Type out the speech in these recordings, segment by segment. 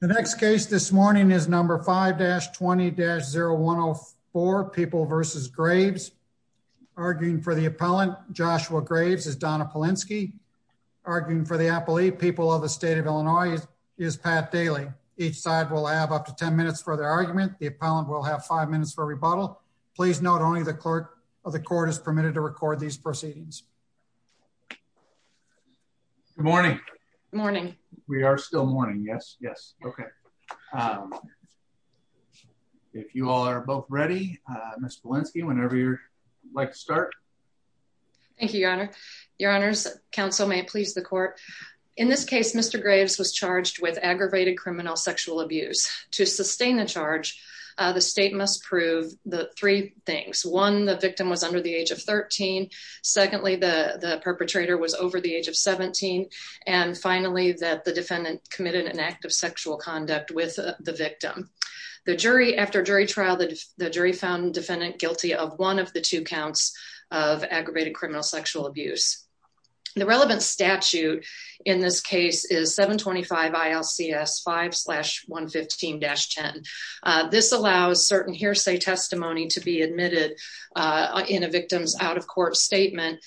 The next case this morning is number 5-20-0104, People v. Graves. Arguing for the appellant, Joshua Graves, is Donna Polinsky. Arguing for the appellate, People of the State of Illinois, is Pat Daly. Each side will have up to 10 minutes for their argument. The appellant will have five minutes for rebuttal. Please note only the clerk of the court is permitted to record these questions. If you are both ready, Ms. Polinsky, whenever you'd like to start. Donna Polinsky Thank you, Your Honor. Your Honor, counsel, may it please the court. In this case, Mr. Graves was charged with aggravated criminal sexual abuse. To sustain the charge, the state must prove three things. One, the victim was under the age of 13. Secondly, the perpetrator was over the age of 17. And finally, that the sexual conduct with the victim. The jury, after jury trial, the jury found the defendant guilty of one of the two counts of aggravated criminal sexual abuse. The relevant statute in this case is 725 ILCS 5-115-10. This allows certain hearsay testimony to be admitted in a victim's out-of-court statement,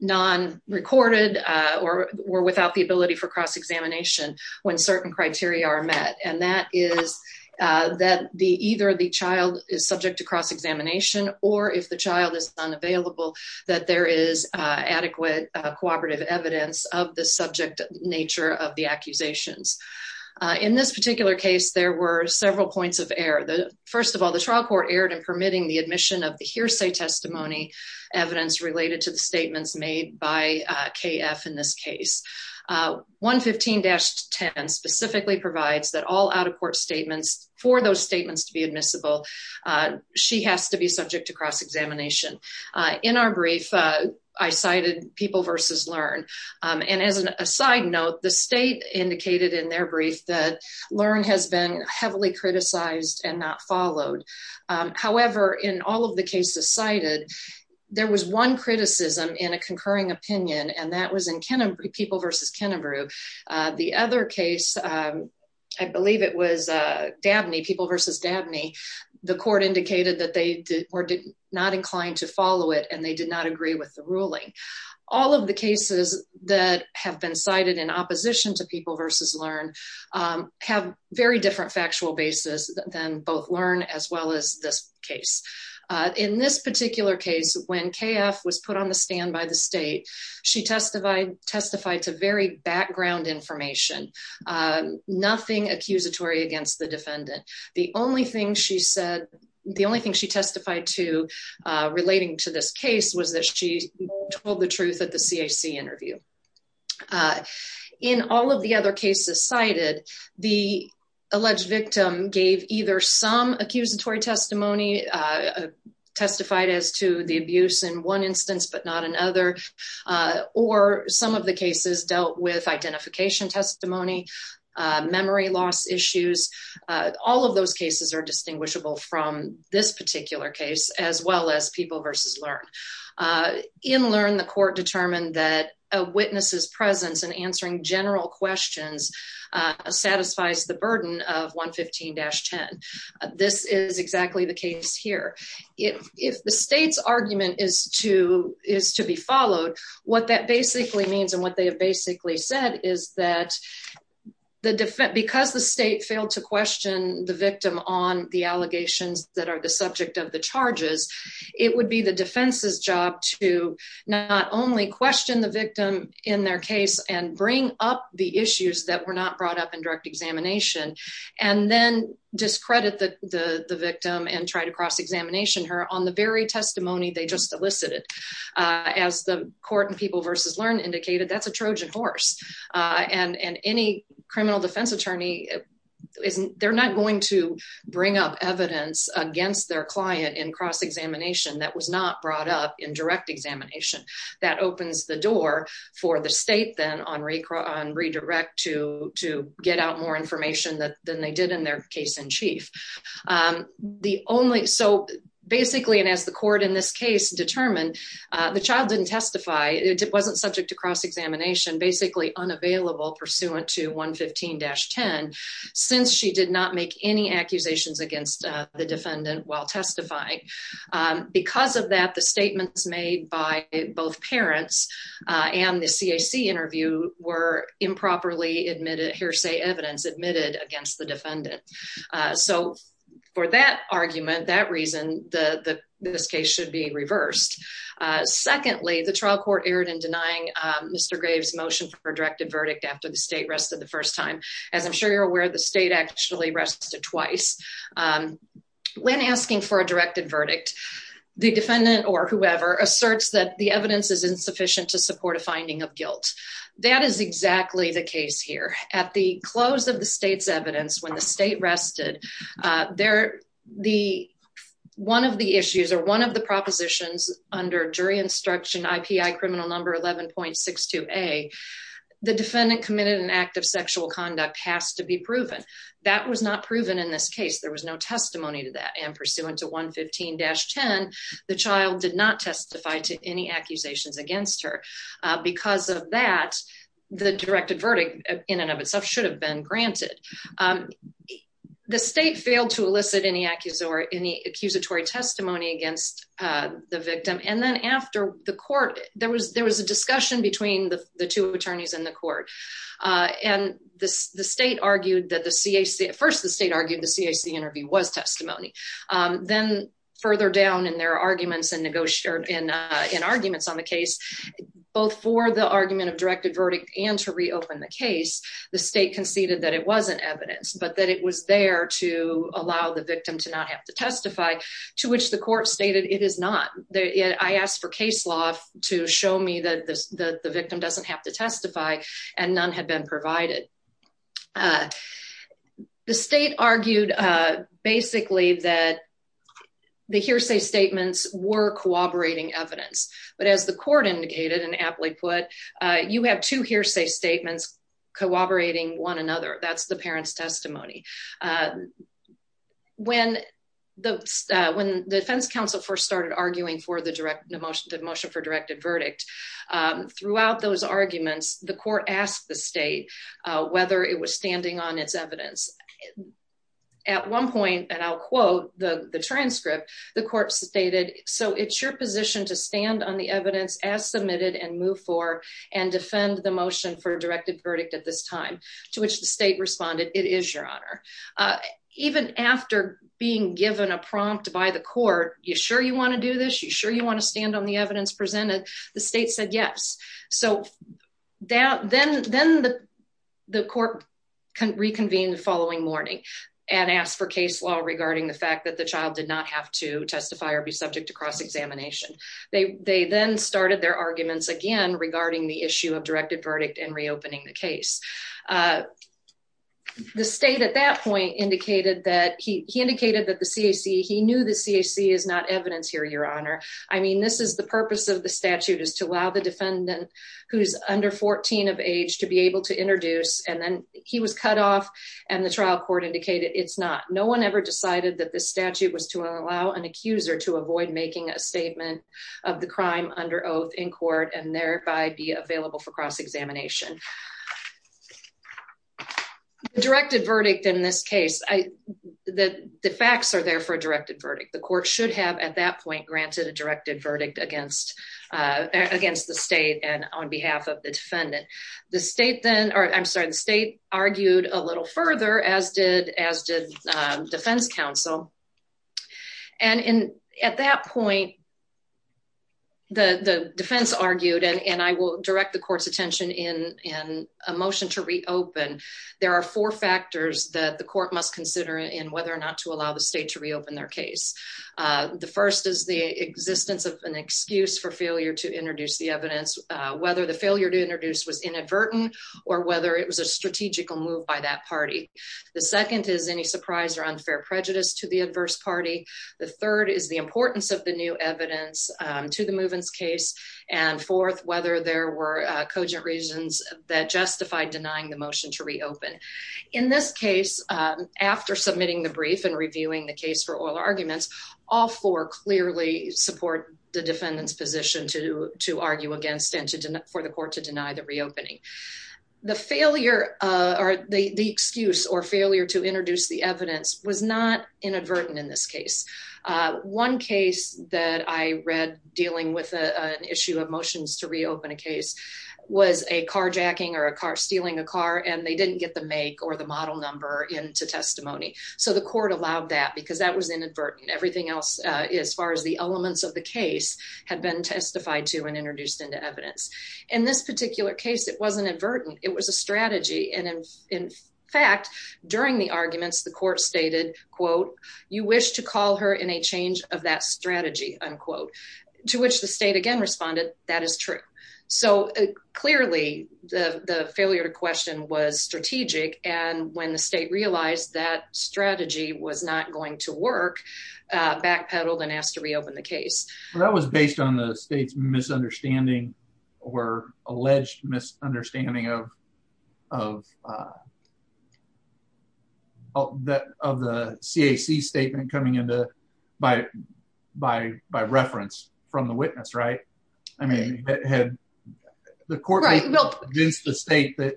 non-recorded or without the ability for cross-examination when certain criteria are met. And that is that either the child is subject to cross-examination or if the child is unavailable, that there is adequate cooperative evidence of the subject nature of the accusations. In this particular case, there were several points of error. First of all, the trial court erred in permitting the admission of the hearsay testimony evidence related to the statements made by KF in this case. 115-10 specifically provides that all out-of-court statements, for those statements to be admissible, she has to be subject to cross-examination. In our brief, I cited People v. Learn. And as an aside note, the state indicated in their brief that Learn has been heavily criticized and not followed. However, in all of the cases cited, there was one criticism in a concurring opinion, and that was in People v. Kennebrew. The other case, I believe it was Dabney, People v. Dabney, the court indicated that they were not inclined to follow it and they did not agree with the ruling. All of the cases that have been cited in opposition to very different factual basis than both Learn as well as this case. In this particular case, when KF was put on the stand by the state, she testified to very background information, nothing accusatory against the defendant. The only thing she testified to relating to this case was that she told the truth at the CAC interview. In all of the other cases cited, the alleged victim gave either some accusatory testimony, testified as to the abuse in one instance but not another, or some of the cases dealt with identification testimony, memory loss issues. All of those cases are distinguishable from this particular case as well as People v. Learn. In Learn, the court determined that a witness's presence in answering general questions satisfies the burden of 115-10. This is exactly the case here. If the state's argument is to be followed, what that basically means and what they have basically said is that because the state failed to question the victim on the allegations that are the subject of the charges, it would be the defense's job to not only question the victim in their case and bring up the issues that were not brought up in direct examination, and then discredit the victim and try to cross-examination her on the very testimony they just elicited. As the court in People v. Learn indicated, that's a Trojan horse. Any criminal defense attorney, they're not going to bring up evidence against their client in cross-examination that was not brought up in direct examination. That opens the door for the state then on redirect to get out more information than they did in their case in chief. Basically, as the court in this case determined, the child didn't testify. It was basically unavailable pursuant to 115-10 since she did not make any accusations against the defendant while testifying. Because of that, the statements made by both parents and the CAC interview were improperly admitted, hearsay evidence admitted against the defendant. For that argument, that reason, this case should be reversed. Secondly, the trial court erred in denying Mr. Graves' motion for a directed verdict after the state rested the first time. As I'm sure you're aware, the state actually rested twice. When asking for a directed verdict, the defendant or whoever asserts that the evidence is insufficient to support a finding of guilt. That is exactly the case here. At the close of the state's evidence when the state rested, one of the issues or one of the propositions under jury instruction, IPI criminal number 11.62A, the defendant committed an act of sexual conduct has to be proven. That was not proven in this case. There was no testimony to that. Pursuant to 115-10, the child did not testify to any accusations against her. Because of that, the directed state failed to elicit any accusatory testimony against the victim. Then after the court, there was a discussion between the two attorneys in the court. The state argued that the CAC, first, the state argued the CAC interview was testimony. Then further down in their arguments on the case, both for the argument of directed verdict and to reopen the case, the state conceded that it wasn't evidence, but that it was there to allow the victim to not have to testify to which the court stated it is not. I asked for case law to show me that the victim doesn't have to testify and none had been provided. The state argued basically that the hearsay statements were cooperating evidence. But as the court indicated and aptly put, you have two hearsay statements cooperating one another. That's the parent's testimony. When the defense counsel first started arguing for the motion for directed verdict, throughout those arguments, the court asked the state whether it was standing on its evidence. At one point, and I'll quote the transcript, the court stated, so it's your position to stand on the evidence as submitted and move forward and defend the motion for directed verdict at this time. To which the state responded, it is your honor. Even after being given a prompt by the court, you sure you want to do this? You sure you want to stand on the evidence presented? The state said yes. Then the court reconvened the following morning and asked for case law regarding the fact that the child did not have to testify or be to cross examination. They then started their arguments again regarding the issue of directed verdict and reopening the case. The state at that point indicated that he indicated that the CAC, he knew the CAC is not evidence here, your honor. I mean, this is the purpose of the statute is to allow the defendant who's under 14 of age to be able to introduce and then he was cut off and the trial court indicated it's not. No one ever decided that this statute was to allow an accuser to avoid making a statement of the crime under oath in court and thereby be available for cross examination. Directed verdict in this case, the facts are there for a directed verdict. The court should have at that point granted a directed verdict against the state and on behalf of the defendant. The state then, or I'm sorry, the state argued a little further as did defense counsel. And at that point, the defense argued and I will direct the court's attention in a motion to reopen. There are four factors that the court must consider in whether or not to allow the state to reopen their case. The first is the existence of an excuse for failure to introduce the evidence, whether the failure to introduce was inadvertent or whether it was a strategical move by that party. The second is any surprise or unfair prejudice to the adverse party. The third is the importance of the new evidence to the Movens case. And fourth, whether there were cogent reasons that justified denying the motion to reopen. In this case, after submitting the brief and reviewing the case for oral arguments, all four clearly support the defendant's position to argue against and for the court to deny the reopening. The excuse or failure to introduce the evidence was not inadvertent in this case. One case that I read dealing with an issue of motions to reopen a case was a carjacking or stealing a car and they didn't get the make or the model number into testimony. So the court allowed that because that was inadvertent. Everything else, as far as the elements of the case, had been testified to and introduced into evidence. In this particular case, it wasn't inadvertent. It was a strategy. And in fact, during the arguments, the court stated, quote, you wish to call her in a change of that strategy, unquote, to which the state again responded, that is true. So clearly, the failure to question was strategic. And when the state realized that strategy was not going to work, backpedaled and asked to reopen the or alleged misunderstanding of, of that of the CAC statement coming into by, by, by reference from the witness, right? I mean, had the court against the state that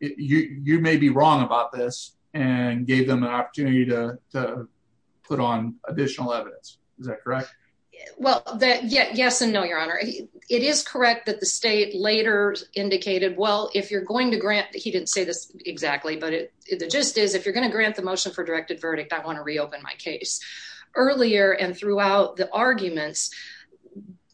you may be wrong about this and gave them an opportunity to put on additional evidence? Is that correct? Well, yes and no, Your Honor. It is correct that the state later indicated, well, if you're going to grant, he didn't say this exactly, but the gist is, if you're going to grant the motion for directed verdict, I want to reopen my case. Earlier and throughout the arguments,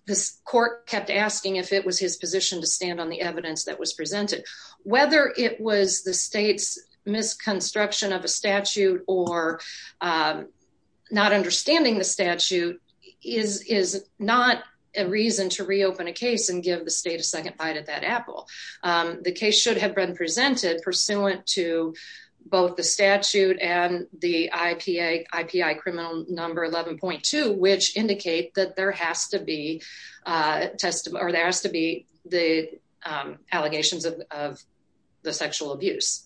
this court kept asking if it was his position to stand on the evidence that was presented. Whether it was the state's misconstruction of a statute or not understanding the statute, is, is not a reason to reopen a case and give the state a second bite at that apple. The case should have been presented pursuant to both the statute and the IPA, IPI criminal number 11.2, which indicate that there has to be a testimony or there has to be the allegations of, of the sexual abuse.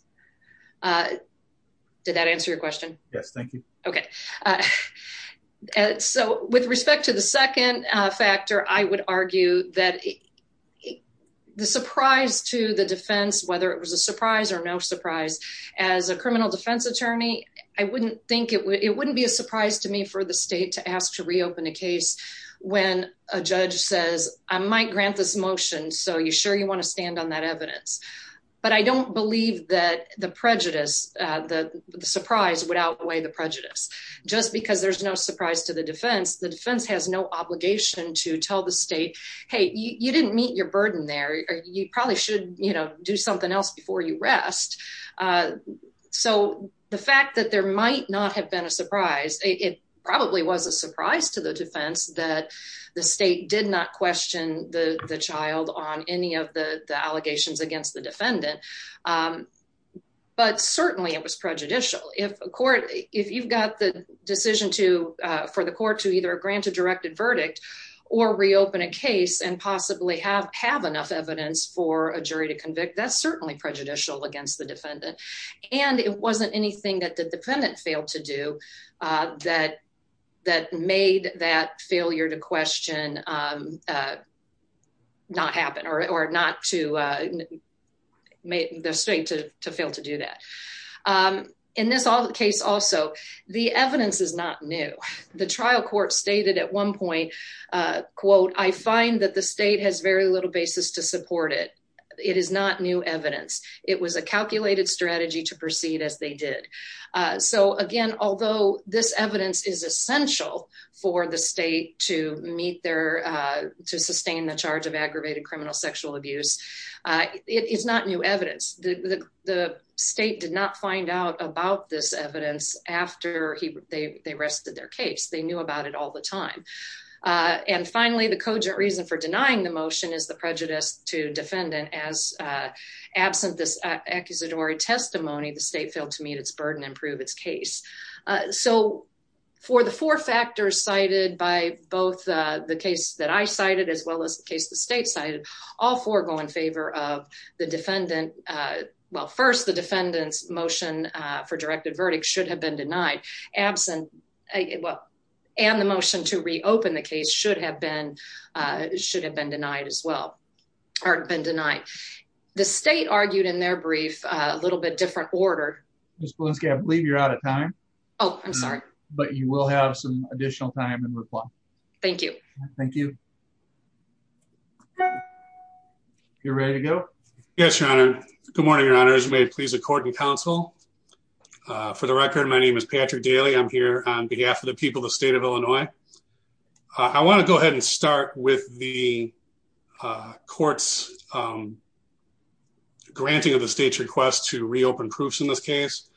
Did that answer your question? Yes. Thank you. Okay. So with respect to the second factor, I would argue that the surprise to the defense, whether it was a surprise or no surprise, as a criminal defense attorney, I wouldn't think it would, it wouldn't be a surprise to me for the state to ask to reopen a case when a judge says, I might grant this motion. So you sure you want to stand on that evidence? But I don't believe that the prejudice, the surprise would outweigh the prejudice just because there's no surprise to the defense. The defense has no obligation to tell the state, Hey, you didn't meet your burden there. You probably should, you know, do something else before you rest. So the fact that there might not have been a surprise, it probably was a surprise to the defense that the state did not question the child on any of the allegations against the defendant. But certainly it was prejudicial. If a court, if you've got the decision to for the court to either grant a directed verdict or reopen a case and possibly have, have enough evidence for a jury to convict, that's certainly prejudicial against the defendant. And it wasn't anything that the defendant failed to do that, that made that failure to question, um, uh, not happen or, or not to, uh, make the state to, to fail to do that. Um, in this case, also the evidence is not new. The trial court stated at one point, uh, quote, I find that the state has very little basis to support it. It is not new evidence. It was a calculated strategy to proceed as they did. Uh, so again, although this evidence is essential for the state to meet their, uh, to sustain the charge of aggravated criminal sexual abuse, uh, it's not new evidence. The, the, the state did not find out about this evidence after he, they, they rested their case. They knew about it all the time. Uh, and finally the cogent reason for denying the motion is the prejudice to defendant as, uh, absent this accusatory testimony, the state failed to meet its burden and prove its case. Uh, so for the four factors cited by both, uh, the case that I cited, as well as the case, the state cited all four go in favor of the defendant. Uh, well, first the defendant's motion, uh, for directed verdict should have been denied absent and the motion to reopen the case should have been, uh, should have been denied as well or been denied. The state argued in their brief, a little bit different order. Ms. Bielanski, I believe you're out of time. Oh, I'm sorry. But you will have some additional time in reply. Thank you. Thank you. You're ready to go. Yes, your honor. Good morning, your honors. May it please the court and counsel. Uh, for the record, my name is Patrick Daly. I'm here on behalf of the people of the state of Illinois. I want to go ahead and start with the uh, court's, um, granting of the state's request to reopen proofs in this case.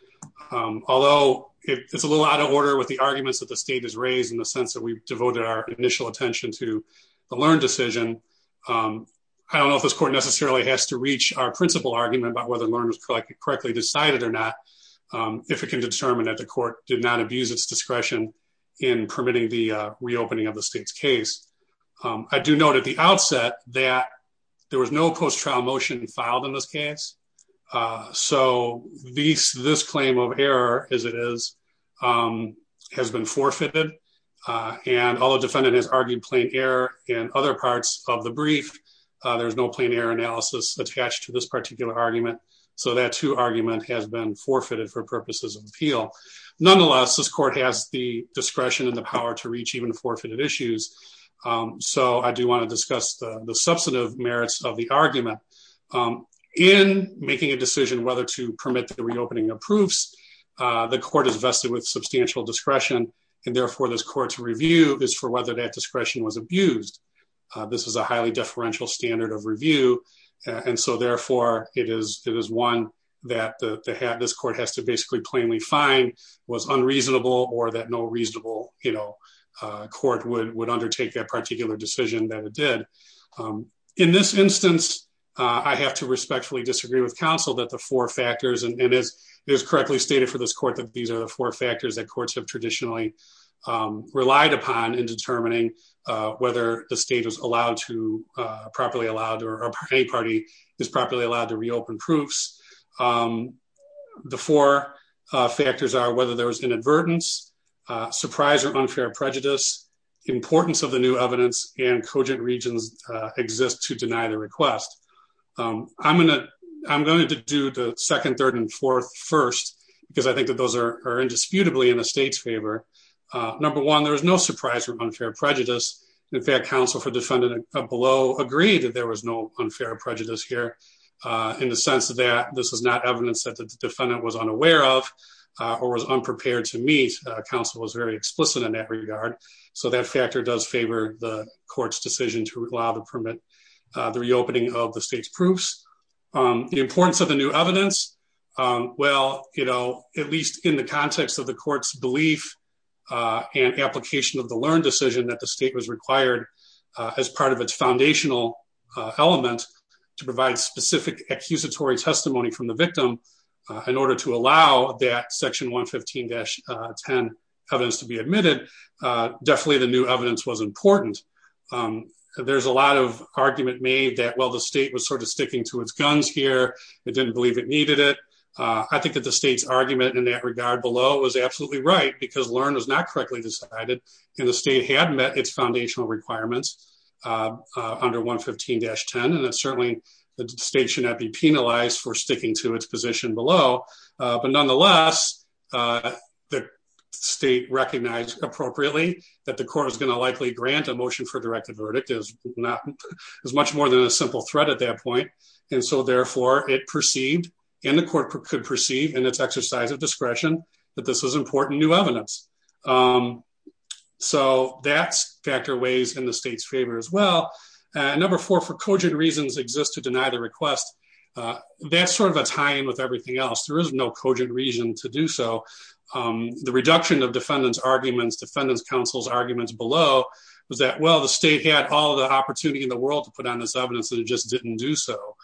Um, although it's a little out of order with the arguments that the state has raised in the sense that we've devoted our initial attention to the learned decision. Um, I don't know if this court necessarily has to reach our principal argument about whether learners correctly decided or not. Um, if it can determine that the court did not abuse its discretion in permitting the reopening of the state's case. Um, I do note at the outset that there was no post trial motion filed in this case. Uh, so these, this claim of error as it is, um, has been forfeited. Uh, and although defendant has argued plain error and other parts of the brief, uh, there's no plain error analysis attached to this particular argument. So that two argument has been forfeited for purposes of appeal. Nonetheless, this court has the discretion and the power to reach even forfeited issues. Um, so I do want to discuss the substantive merits of the argument, um, in making a decision whether to permit the reopening of proofs. Uh, the court is vested with substantial discretion and therefore this court's review is for whether that discretion was abused. This is a highly deferential standard of review. And so therefore it is, it is one that the, the hat, this court has to basically plainly fine was unreasonable or that no reasonable, you know, uh, court would, would undertake that particular decision that it did. Um, in this instance, uh, I have to respectfully disagree with counsel that the four factors, and it is correctly stated for this court that these are the four factors that courts have traditionally, um, relied upon in determining, uh, whether the state is allowed to, uh, properly allowed or a party is properly allowed to reopen proofs. Um, the four, uh, factors are whether there was inadvertence, uh, surprise or unfair prejudice importance of the new evidence and cogent regions, uh, exist to deny the request. Um, I'm going to, I'm going to do the second, third and fourth first, because I think that those are, are indisputably in the state's favor. Uh, number one, there was no surprise or unfair prejudice. In fact, counsel for defendant below agreed that there was no unfair prejudice here, uh, in the sense that this is not evidence that the defendant was unaware of, uh, or was unprepared to meet. Uh, counsel was very explicit in that regard. So that factor does favor the court's decision to allow the permit, uh, the reopening of the state's proofs. Um, the importance of the new evidence, um, well, you know, at least in the context of the court's belief, uh, and application of the learned decision that the state was required, uh, as part of its foundational, uh, element to provide specific accusatory testimony from the victim, uh, in order to allow that section one 15 dash, uh, 10 evidence to be admitted. Uh, definitely the new evidence was important. Um, there's a lot of argument made that, well, the state was sort of sticking to its guns here. It didn't believe it needed it. Uh, I think that the state's argument in that regard below was absolutely right because learn was not correctly decided and the state had met its foundational requirements, uh, uh, under one 15 dash 10. And it's certainly the state should not be penalized for sticking to its position below. Uh, but nonetheless, uh, the state recognized appropriately that the court was going to likely grant a motion for directive verdict is not as much more than a simple threat at that point. And so therefore it perceived in the court could perceive and it's exercise of discretion that this was important new evidence. Um, so that's factor ways in the state's favor as well. Uh, number four for cogent reasons exist to deny the request. Uh, that's sort of a time with everything else. There is no cogent reason to do so. Um, the reduction of defendants arguments, defendants councils arguments below was that, well, the state had all the opportunity in the world to put on this evidence that it just didn't do so.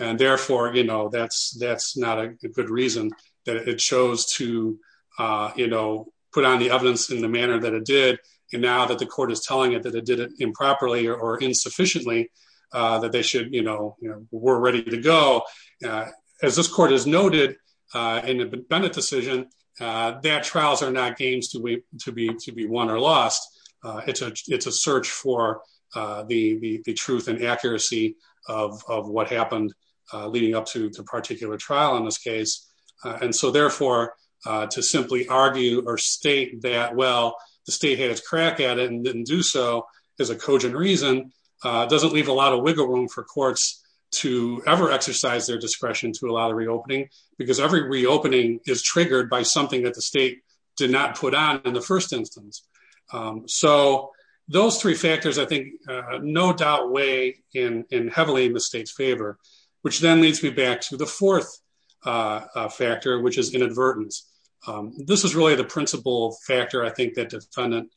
And therefore, you know, that's, that's not a good reason that it chose to, uh, you know, put on the evidence in the manner that it did. And now that the court is telling it that it did it improperly or insufficiently, uh, that they should, you know, we're ready to go. Uh, as this court has noted, uh, in the benefit decision, uh, that trials are not games to to be, to be won or lost. Uh, it's a, it's a search for, uh, the, the, the truth and accuracy of, of what happened, uh, leading up to the particular trial in this case. Uh, and so therefore, uh, to simply argue or state that, well, the state has crack at it and didn't do so as a cogent reason, uh, doesn't leave a lot of wiggle room for courts to ever exercise their discretion to allow the reopening because every reopening is triggered by something that the in the first instance. Um, so those three factors, I think, uh, no doubt way in, in heavily in the state's favor, which then leads me back to the fourth, uh, uh, factor, which is inadvertence. Um, this is really the principle factor. I think that defendant,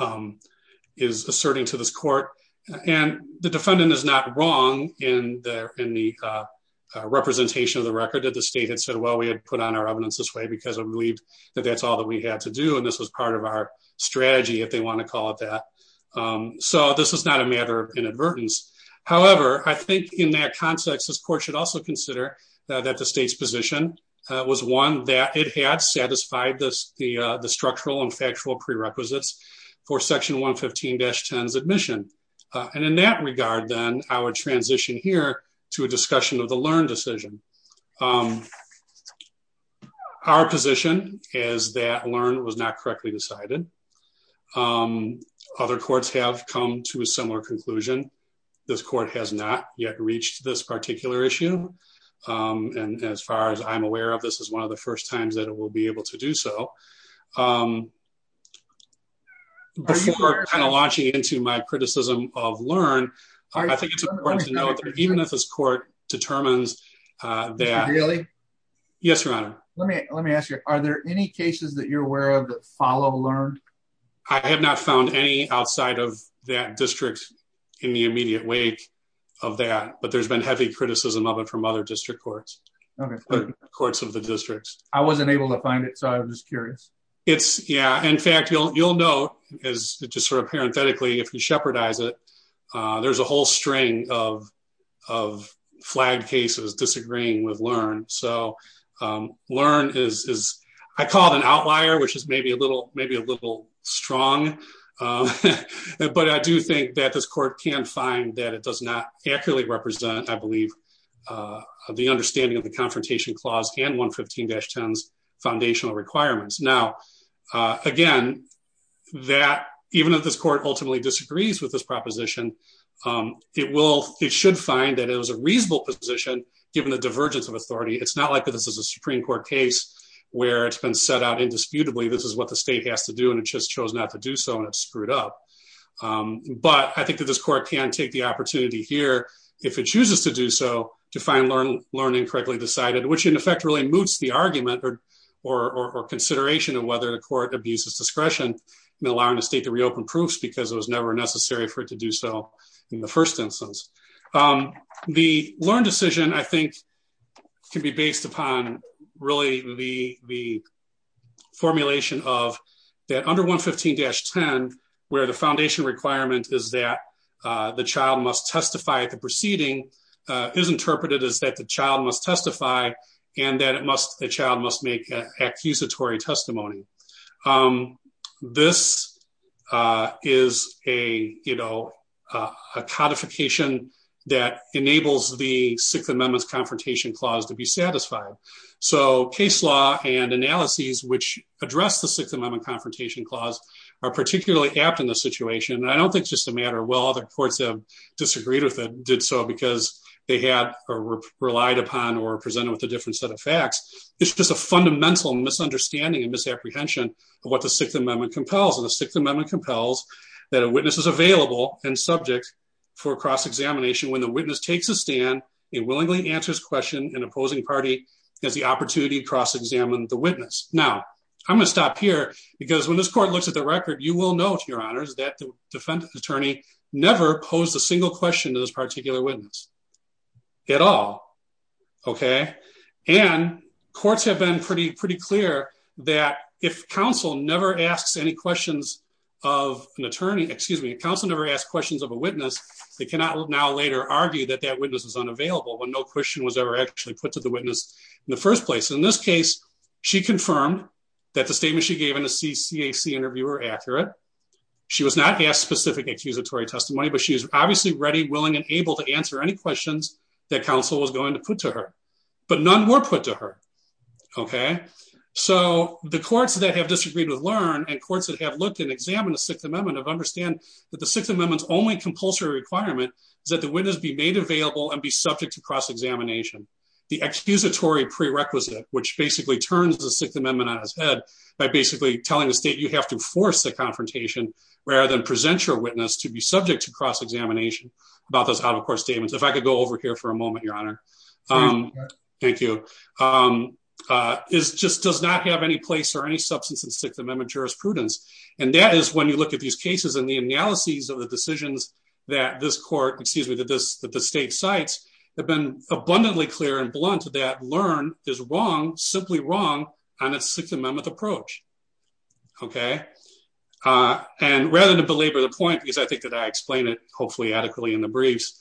um, is asserting to this court and the defendant is not wrong in the, in the, uh, uh, representation of the record that the state had said, well, we had put on our evidence this way because I'm relieved that that's all that we had to do. And this was part of our strategy if they want to call it that. Um, so this is not a matter of inadvertence. However, I think in that context, this court should also consider that the state's position, uh, was one that it had satisfied this, the, uh, the structural and factual prerequisites for section one 15 dash tens admission. Uh, and in that regard, then our transition here to a discussion of the learn decision, um, our position is that learn was not correctly decided. Um, other courts have come to a similar conclusion. This court has not yet reached this particular issue. Um, and as far as I'm aware of, this is one of the first times that we'll be able to do so. Um, before kind of launching into my criticism of learn, I think it's important to know that even if this court determines, uh, that yes, your honor, let me, let me ask you, are there any cases that you're aware of that follow learned? I have not found any outside of that district in the immediate wake of that, but there's been heavy criticism of it from other district courts, courts of the districts. I wasn't able to find it. So I was just curious. It's yeah. In fact, you'll, you'll know as just sort of parenthetically, if you shepherd eyes it, uh, there's a whole string of, of flag cases disagreeing with learn. So, um, learn is, is I call it an outlier, which is maybe a little, maybe a little strong. Um, but I do think that this court can find that it does not accurately represent, I believe, uh, the understanding of the confrontation clause and one 15 dash 10s foundational requirements. Now, uh, again, that even if this court ultimately disagrees with this proposition, um, it will, it should find that it was a reasonable position given the divergence of authority. It's not like this is a Supreme court case where it's been set out indisputably. This is what the state has to do. And it just chose not to do so. And it's screwed up. Um, but I think that this court can take the opportunity here if it chooses to do so to find learn, learn incorrectly decided, which in effect really moots the argument or, or, or, or consideration of whether the court abuses discretion and allowing the state to reopen proofs because it was never necessary for it to do so in the first instance. Um, the learn decision I think can be based upon really the, the under one 15 dash 10, where the foundation requirement is that, uh, the child must testify at the proceeding, uh, is interpreted as that the child must testify and that it must, the child must make a accusatory testimony. Um, this, uh, is a, you know, uh, a codification that enables the sixth amendments confrontation clause to be satisfied. So case law and analyses, which are particularly apt in this situation. And I don't think it's just a matter of, well, other courts have disagreed with it, did so because they had relied upon or presented with a different set of facts. It's just a fundamental misunderstanding and misapprehension of what the sixth amendment compels. And the sixth amendment compels that a witness is available and subject for cross-examination. When the witness takes a stand, it willingly answers question and opposing party has the opportunity to cross examine the witness. Now I'm going to stop here because when this court looks at the record, you will note your honors that the defendant attorney never posed a single question to this particular witness at all. Okay. And courts have been pretty, pretty clear that if counsel never asks any questions of an attorney, excuse me, counsel never asked questions of a witness. They cannot now later argue that that witness is unavailable when no question was ever actually put to the witness in the first place. In this case, she confirmed that the statement she gave in a CCAC interview were accurate. She was not asked specific accusatory testimony, but she was obviously ready, willing, and able to answer any questions that counsel was going to put to her, but none were put to her. Okay. So the courts that have disagreed with LEARN and courts that have looked and examined the sixth amendment of understand that the sixth amendment's only compulsory requirement is that the witness be and be subject to cross-examination. The excusatory prerequisite, which basically turns the sixth amendment on its head by basically telling the state, you have to force the confrontation rather than present your witness to be subject to cross-examination about those out-of-court statements. If I could go over here for a moment, your honor. Thank you. It just does not have any place or any substance in sixth amendment jurisprudence. And that is when you look at these cases and the analyses of the decisions that this court, excuse me, that the state cites have been abundantly clear and blunt that LEARN is wrong, simply wrong on its sixth amendment approach. Okay. And rather than belabor the point, because I think that I explained it hopefully adequately in the briefs,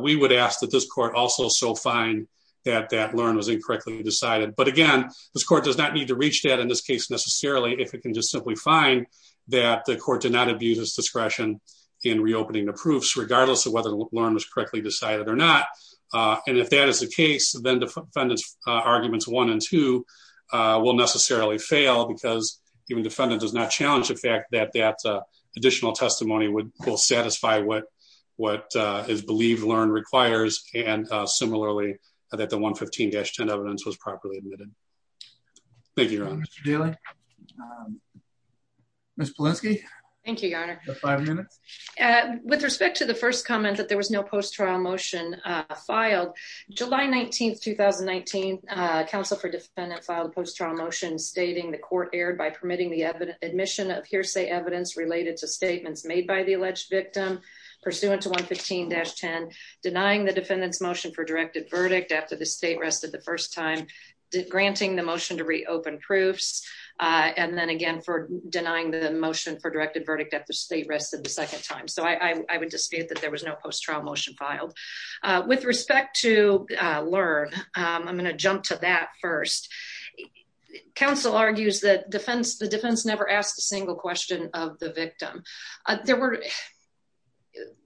we would ask that this court also so find that that LEARN was incorrectly decided. But again, this court does not need to reach that in this case necessarily, if it can just simply find that the court did not abuse discretion in reopening the proofs, regardless of whether the LEARN was correctly decided or not. And if that is the case, then defendants arguments one and two will necessarily fail because even defendant does not challenge the fact that that additional testimony would satisfy what, what is believed LEARN requires. And similarly that the 115-10 evidence was properly admitted. Thank you, Your Honor. Mr. Daly. Ms. Polensky. Thank you, Your Honor. You have five minutes. With respect to the first comment that there was no post-trial motion filed, July 19th, 2019, counsel for defendant filed a post-trial motion stating the court erred by permitting the admission of hearsay evidence related to statements made by the alleged victim pursuant to 115-10, denying the defendant's motion for directed verdict after the state rested the first time, granting the motion to reopen proofs. And then again, for denying the motion for directed verdict at the state rested the second time. So I would dispute that there was no post-trial motion filed. With respect to LEARN, I'm going to jump to that first. Counsel argues that the defense never asked a single question of the victim. There were,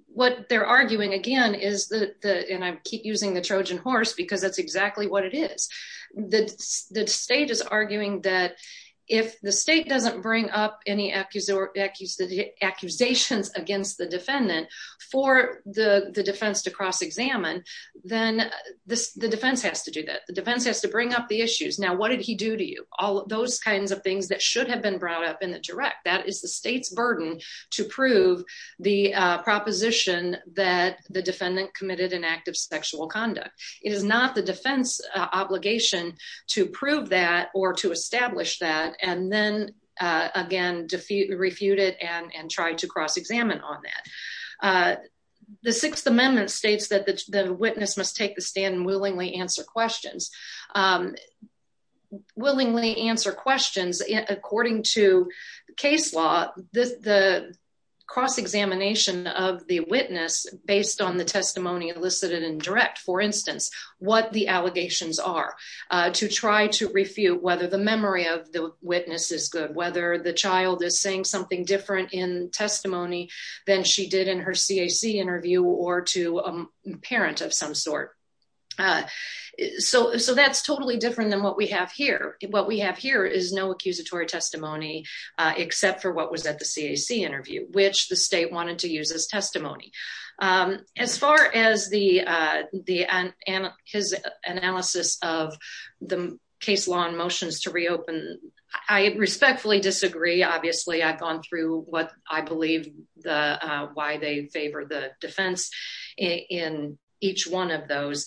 what they're arguing again is that the, and I keep using the Trojan horse because that's exactly what it is. The state is arguing that if the state doesn't bring up any accusations against the defendant for the defense to cross-examine, then the defense has to do that. The defense has to bring up the issues. Now, what did he do to you? All of those kinds of things that should have been brought up in the direct, that is the state's burden to prove the proposition that the defendant committed an act of sexual conduct. It is not the defense obligation to prove that or to establish that. And then again, refute it and try to cross-examine on that. The sixth amendment states that the witness must take the stand and willingly answer questions. Willingly answer questions. According to case law, the cross-examination of the witness based on the testimony elicited in direct, for instance, what the allegations are, to try to refute whether the memory of the witness is good, whether the child is saying something different in testimony than she did in her CAC interview or to a parent of some sort. So that's totally different than what we have here. What we have here is no accusatory testimony except for what was at the CAC interview, which the state wanted to use as testimony. As far as his analysis of the case law and motions to reopen, I respectfully disagree. Obviously, I've gone through what I believe, why they favor the defense in each one of those.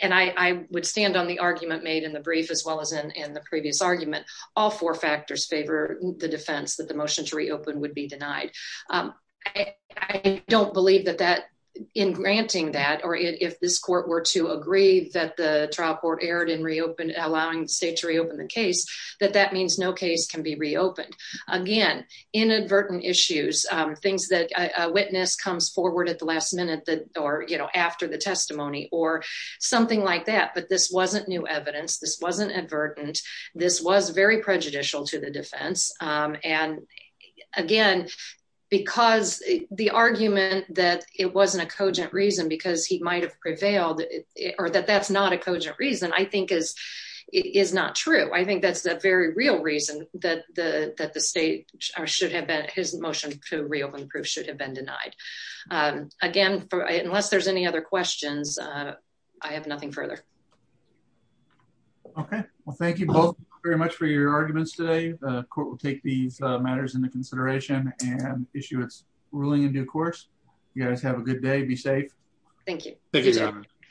And I would stand on the argument made in the brief as well as in the previous argument. All four factors favor the defense that the motion to reopen would be denied. I don't believe that in granting that, or if this court were to agree that the trial court allowing the state to reopen the case, that that means no case can be reopened. Again, inadvertent issues, things that a witness comes forward at the last minute or after the testimony or something like that. But this wasn't new evidence. This wasn't advertent. This was very prejudicial to the defense. And again, because the argument that it wasn't a reason, I think is not true. I think that's the very real reason that the state should have been his motion to reopen the proof should have been denied. Again, unless there's any other questions, I have nothing further. Okay. Well, thank you both very much for your arguments today. The court will take these matters into consideration and issue its ruling in due course. You guys have a good day. Be safe. Thank you. Thank you, Your Honor. Thank you.